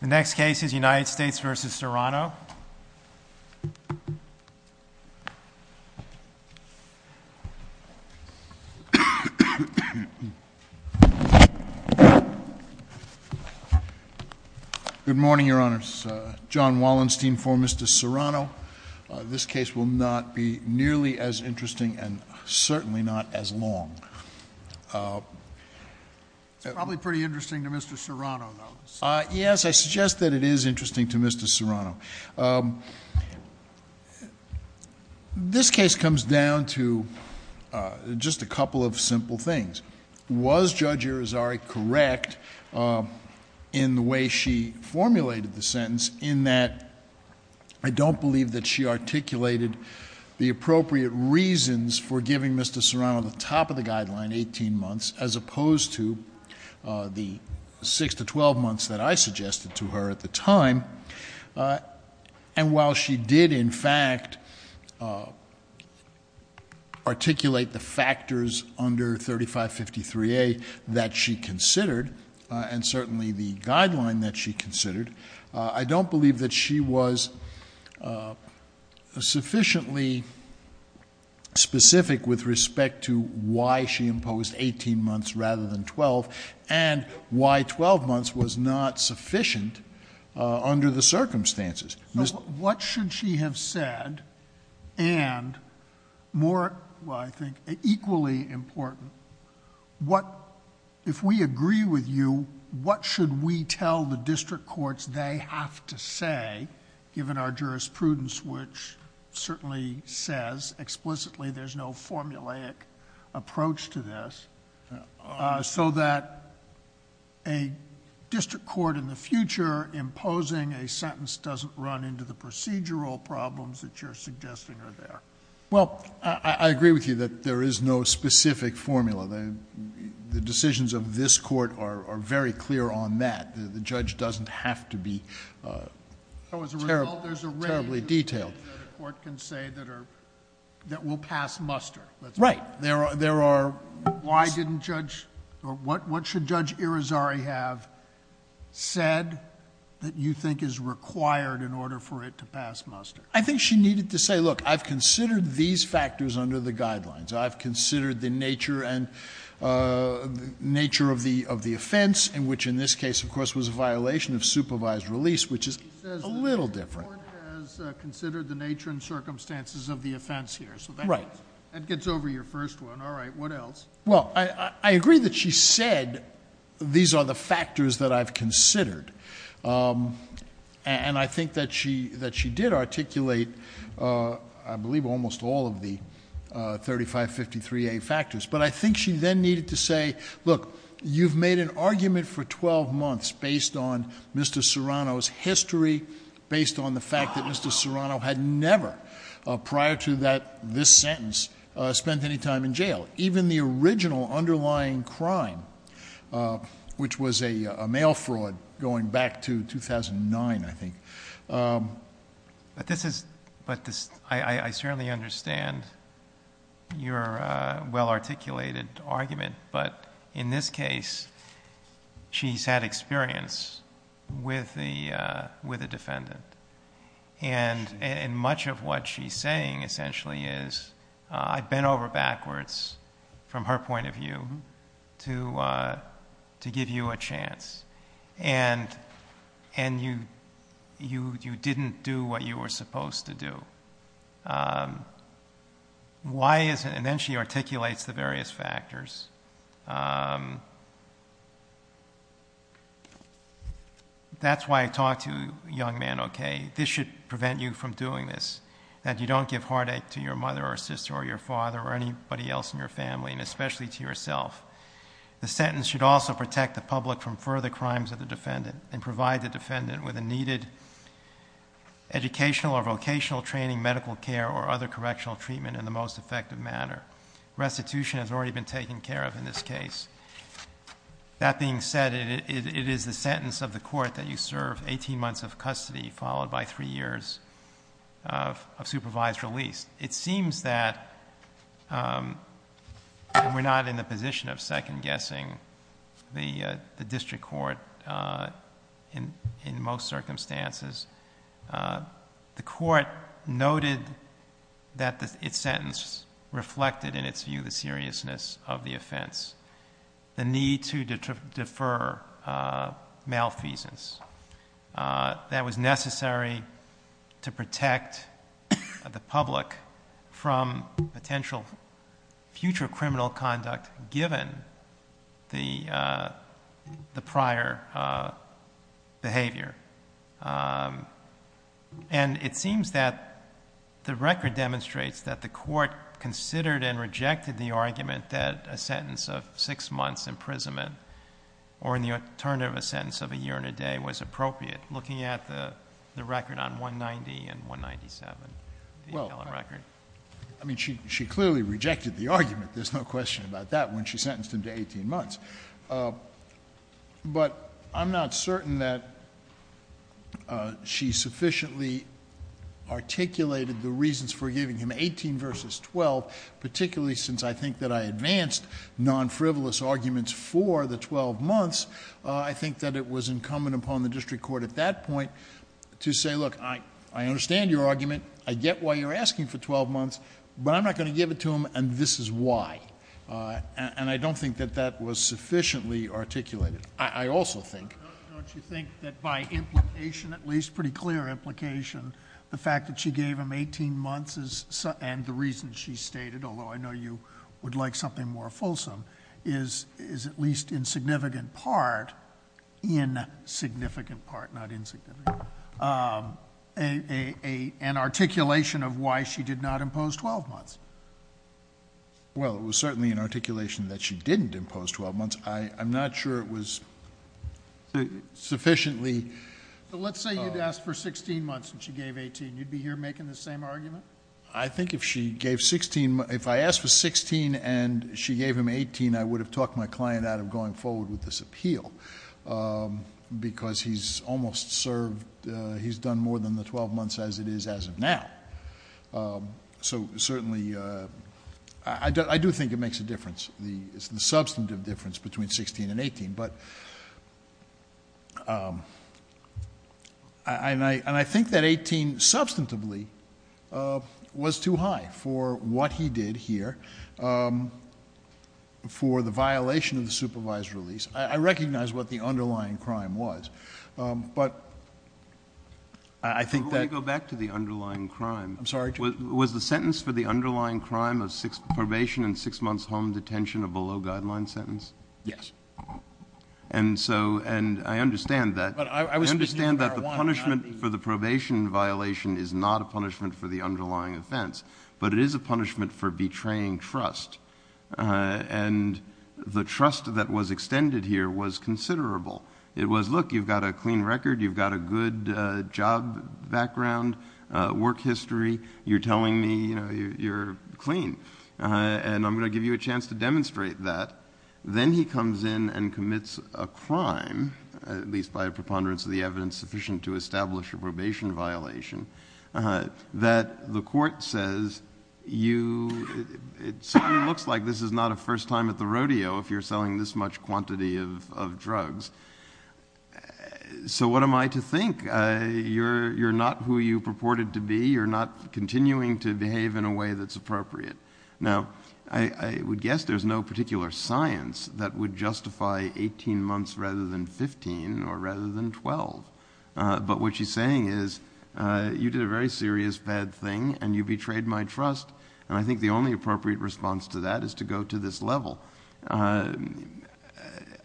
The next case is United States v. Serrano. Good morning, Your Honors. John Wallenstein for Mr. Serrano. This case will not be nearly as interesting and certainly not as long. It's probably pretty interesting to Mr. Serrano, though. Yes, I suggest that it is interesting to Mr. Serrano. This case comes down to just a couple of simple things. Was Judge Irizarry correct in the way she formulated the sentence in that I don't believe that she articulated the appropriate reasons for giving Mr. Serrano the top of the guideline, 18 months, as opposed to the 6 to 12 months that I suggested to her at the time? And while she did, in fact, articulate the factors under 3553A that she considered, and certainly the guideline that she considered, I don't believe that she was sufficiently specific with respect to why she imposed 18 months rather than 12 and why 12 months was not sufficient under the circumstances. What should she have said, and equally important, if we agree with you, what should we tell the district courts they have to say, given our jurisprudence, which certainly says explicitly there's no formulaic approach to this, so that a district court in the future imposing a sentence doesn't run into the procedural problems that you're suggesting are there? Well, I agree with you that there is no specific formula. The decisions of this court are very clear on that. The judge doesn't have to be terribly detailed. So as a result, there's a range that a court can say that will pass muster. Right. Why didn't Judge or what should Judge Irizarry have said that you think is required in order for it to pass muster? I think she needed to say, look, I've considered these factors under the guidelines. I've considered the nature of the offense, which in this case, of course, was a violation of supervised release, which is a little different. She says the court has considered the nature and circumstances of the offense here. Right. That gets over your first one. All right. What else? Well, I agree that she said these are the factors that I've considered. And I think that she did articulate, I believe, almost all of the 3553A factors. But I think she then needed to say, look, you've made an argument for 12 months based on Mr. Serrano's history, based on the fact that Mr. Serrano had never prior to this sentence spent any time in jail. Even the original underlying crime, which was a mail fraud going back to 2009, I think. But I certainly understand your well-articulated argument. But in this case, she's had experience with the defendant. And much of what she's saying essentially is, I bent over backwards from her point of view to give you a chance. And you didn't do what you were supposed to do. And then she articulates the various factors. That's why I talk to young men, okay? This should prevent you from doing this, that you don't give heartache to your mother or sister or your father or anybody else in your family, and especially to yourself. The sentence should also protect the public from further crimes of the defendant and provide the defendant with the needed educational or vocational training, medical care, or other correctional treatment in the most effective manner. Restitution has already been taken care of in this case. That being said, it is the sentence of the court that you serve 18 months of custody, followed by three years of supervised release. It seems that we're not in the position of second-guessing the district court in most circumstances. The court noted that its sentence reflected, in its view, the seriousness of the offense, the need to defer malfeasance. That was necessary to protect the public from potential future criminal conduct, given the prior behavior. And it seems that the record demonstrates that the court considered and rejected the argument that a sentence of 6 months imprisonment, or in the alternative, a sentence of a year and a day, was appropriate, looking at the record on 190 and 197. Well, I mean, she clearly rejected the argument. There's no question about that when she sentenced him to 18 months. But I'm not certain that she sufficiently articulated the reasons for giving him 18 versus 12, particularly since I think that I advanced non-frivolous arguments for the 12 months. I think that it was incumbent upon the district court at that point to say, look, I understand your argument, I get why you're asking for 12 months, but I'm not going to give it to him, and this is why. And I don't think that that was sufficiently articulated. I also think. Don't you think that by implication, at least pretty clear implication, the fact that she gave him 18 months and the reasons she stated, although I know you would like something more fulsome, is at least in significant part, insignificant part, not insignificant, an articulation of why she did not impose 12 months? Well, it was certainly an articulation that she didn't impose 12 months. I'm not sure it was sufficiently. But let's say you'd ask for 16 months and she gave 18. You'd be here making the same argument? I think if she gave 16, if I asked for 16 and she gave him 18, I would have talked my client out of going forward with this appeal because he's almost served, he's done more than the 12 months as it is as of now. So certainly I do think it makes a difference, the substantive difference between 16 and 18. But I think that 18 substantively was too high for what he did here, for the violation of the supervised release. I recognize what the underlying crime was, but I think that. Let me go back to the underlying crime. I'm sorry. Was the sentence for the underlying crime of probation and six months home detention a below-guideline sentence? Yes. And I understand that. I understand that the punishment for the probation violation is not a punishment for the underlying offense, but it is a punishment for betraying trust. And the trust that was extended here was considerable. It was, look, you've got a clean record, you've got a good job background, work history, you're telling me you're clean, and I'm going to give you a chance to demonstrate that. Then he comes in and commits a crime, at least by a preponderance of the evidence sufficient to establish a probation violation, that the court says it certainly looks like this is not a first time at the rodeo if you're selling this much quantity of drugs. So what am I to think? You're not who you purported to be. You're not continuing to behave in a way that's appropriate. Now, I would guess there's no particular science that would justify 18 months rather than 15 or rather than 12. But what she's saying is you did a very serious bad thing and you betrayed my trust, and I think the only appropriate response to that is to go to this level. I'm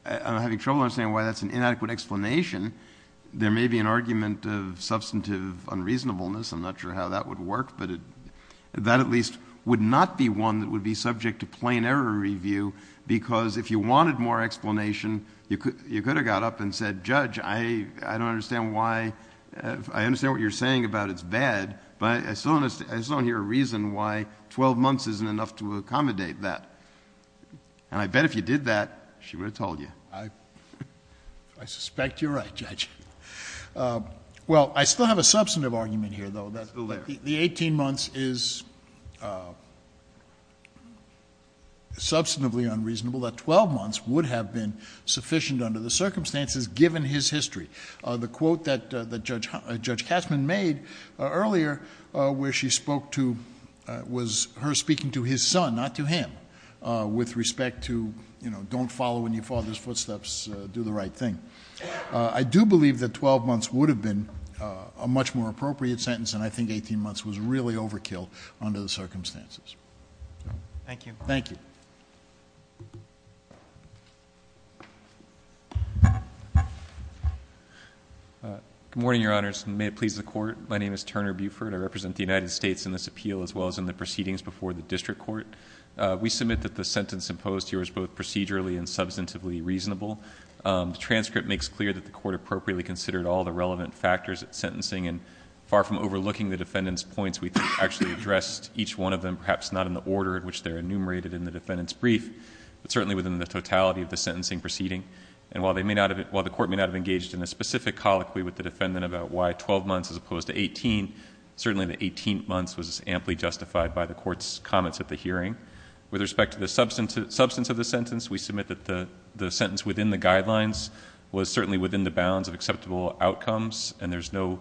having trouble understanding why that's an inadequate explanation. There may be an argument of substantive unreasonableness. I'm not sure how that would work. But that at least would not be one that would be subject to plain error review because if you wanted more explanation, you could have got up and said, Judge, I don't understand why, I understand what you're saying about it's bad, but I still don't hear a reason why 12 months isn't enough to accommodate that. And I bet if you did that, she would have told you. I suspect you're right, Judge. Well, I still have a substantive argument here, though. The 18 months is substantively unreasonable, that 12 months would have been sufficient under the circumstances given his history. The quote that Judge Cashman made earlier where she spoke to was her speaking to his son, not to him, with respect to don't follow in your father's footsteps, do the right thing. I do believe that 12 months would have been a much more appropriate sentence and I think 18 months was really overkill under the circumstances. Thank you. Thank you. Good morning, Your Honors, and may it please the Court. My name is Turner Buford. I represent the United States in this appeal as well as in the proceedings before the district court. We submit that the sentence imposed here is both procedurally and substantively reasonable. The transcript makes clear that the Court appropriately considered all the relevant factors at sentencing and far from overlooking the defendant's points, we actually addressed each one of them, perhaps not in the order in which they're enumerated in the defendant's brief, but certainly within the totality of the sentencing proceeding. And while the Court may not have engaged in a specific colloquy with the defendant about why 12 months as opposed to 18, certainly the 18 months was amply justified by the Court's comments at the hearing. With respect to the substance of the sentence, we submit that the sentence within the guidelines was certainly within the bounds of acceptable outcomes and there's no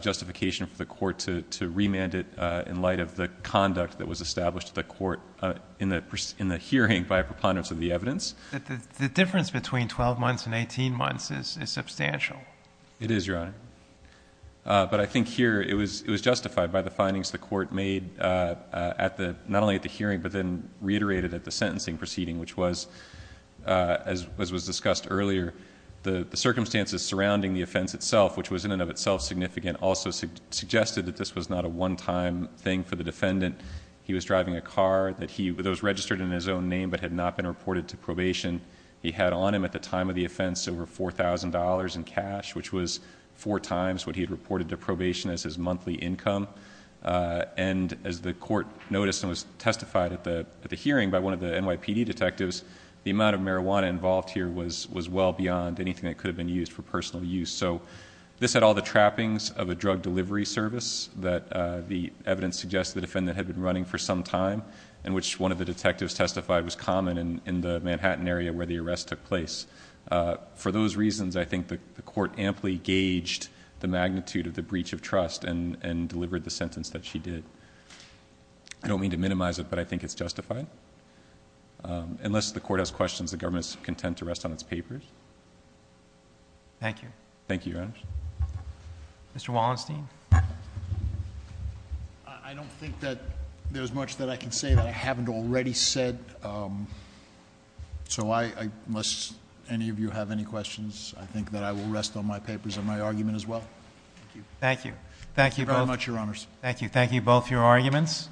justification for the Court to remand it in light of the conduct that was established in the hearing by a preponderance of the evidence. The difference between 12 months and 18 months is substantial. It is, Your Honor. But I think here it was justified by the findings the Court made not only at the hearing but then reiterated at the sentencing proceeding, which was, as was discussed earlier, the circumstances surrounding the offense itself, which was in and of itself significant, also suggested that this was not a one-time thing for the defendant. He was driving a car that was registered in his own name but had not been reported to probation. He had on him at the time of the offense over $4,000 in cash, which was four times what he had reported to probation as his monthly income. And as the Court noticed and was testified at the hearing by one of the NYPD detectives, the amount of marijuana involved here was well beyond anything that could have been used for personal use. So this had all the trappings of a drug delivery service that the evidence suggests the defendant had been running for some time and which one of the detectives testified was common in the Manhattan area where the arrest took place. For those reasons, I think the Court amply gauged the magnitude of the breach of trust and delivered the sentence that she did. I don't mean to minimize it, but I think it's justified. Unless the Court has questions, the government is content to rest on its papers. Thank you. Thank you, Your Honor. Mr. Wallenstein. I don't think that there's much that I can say that I haven't already said. So unless any of you have any questions, I think that I will rest on my papers and my argument as well. Thank you. Thank you. Thank you very much, Your Honors. Thank you. Thank you both for your arguments.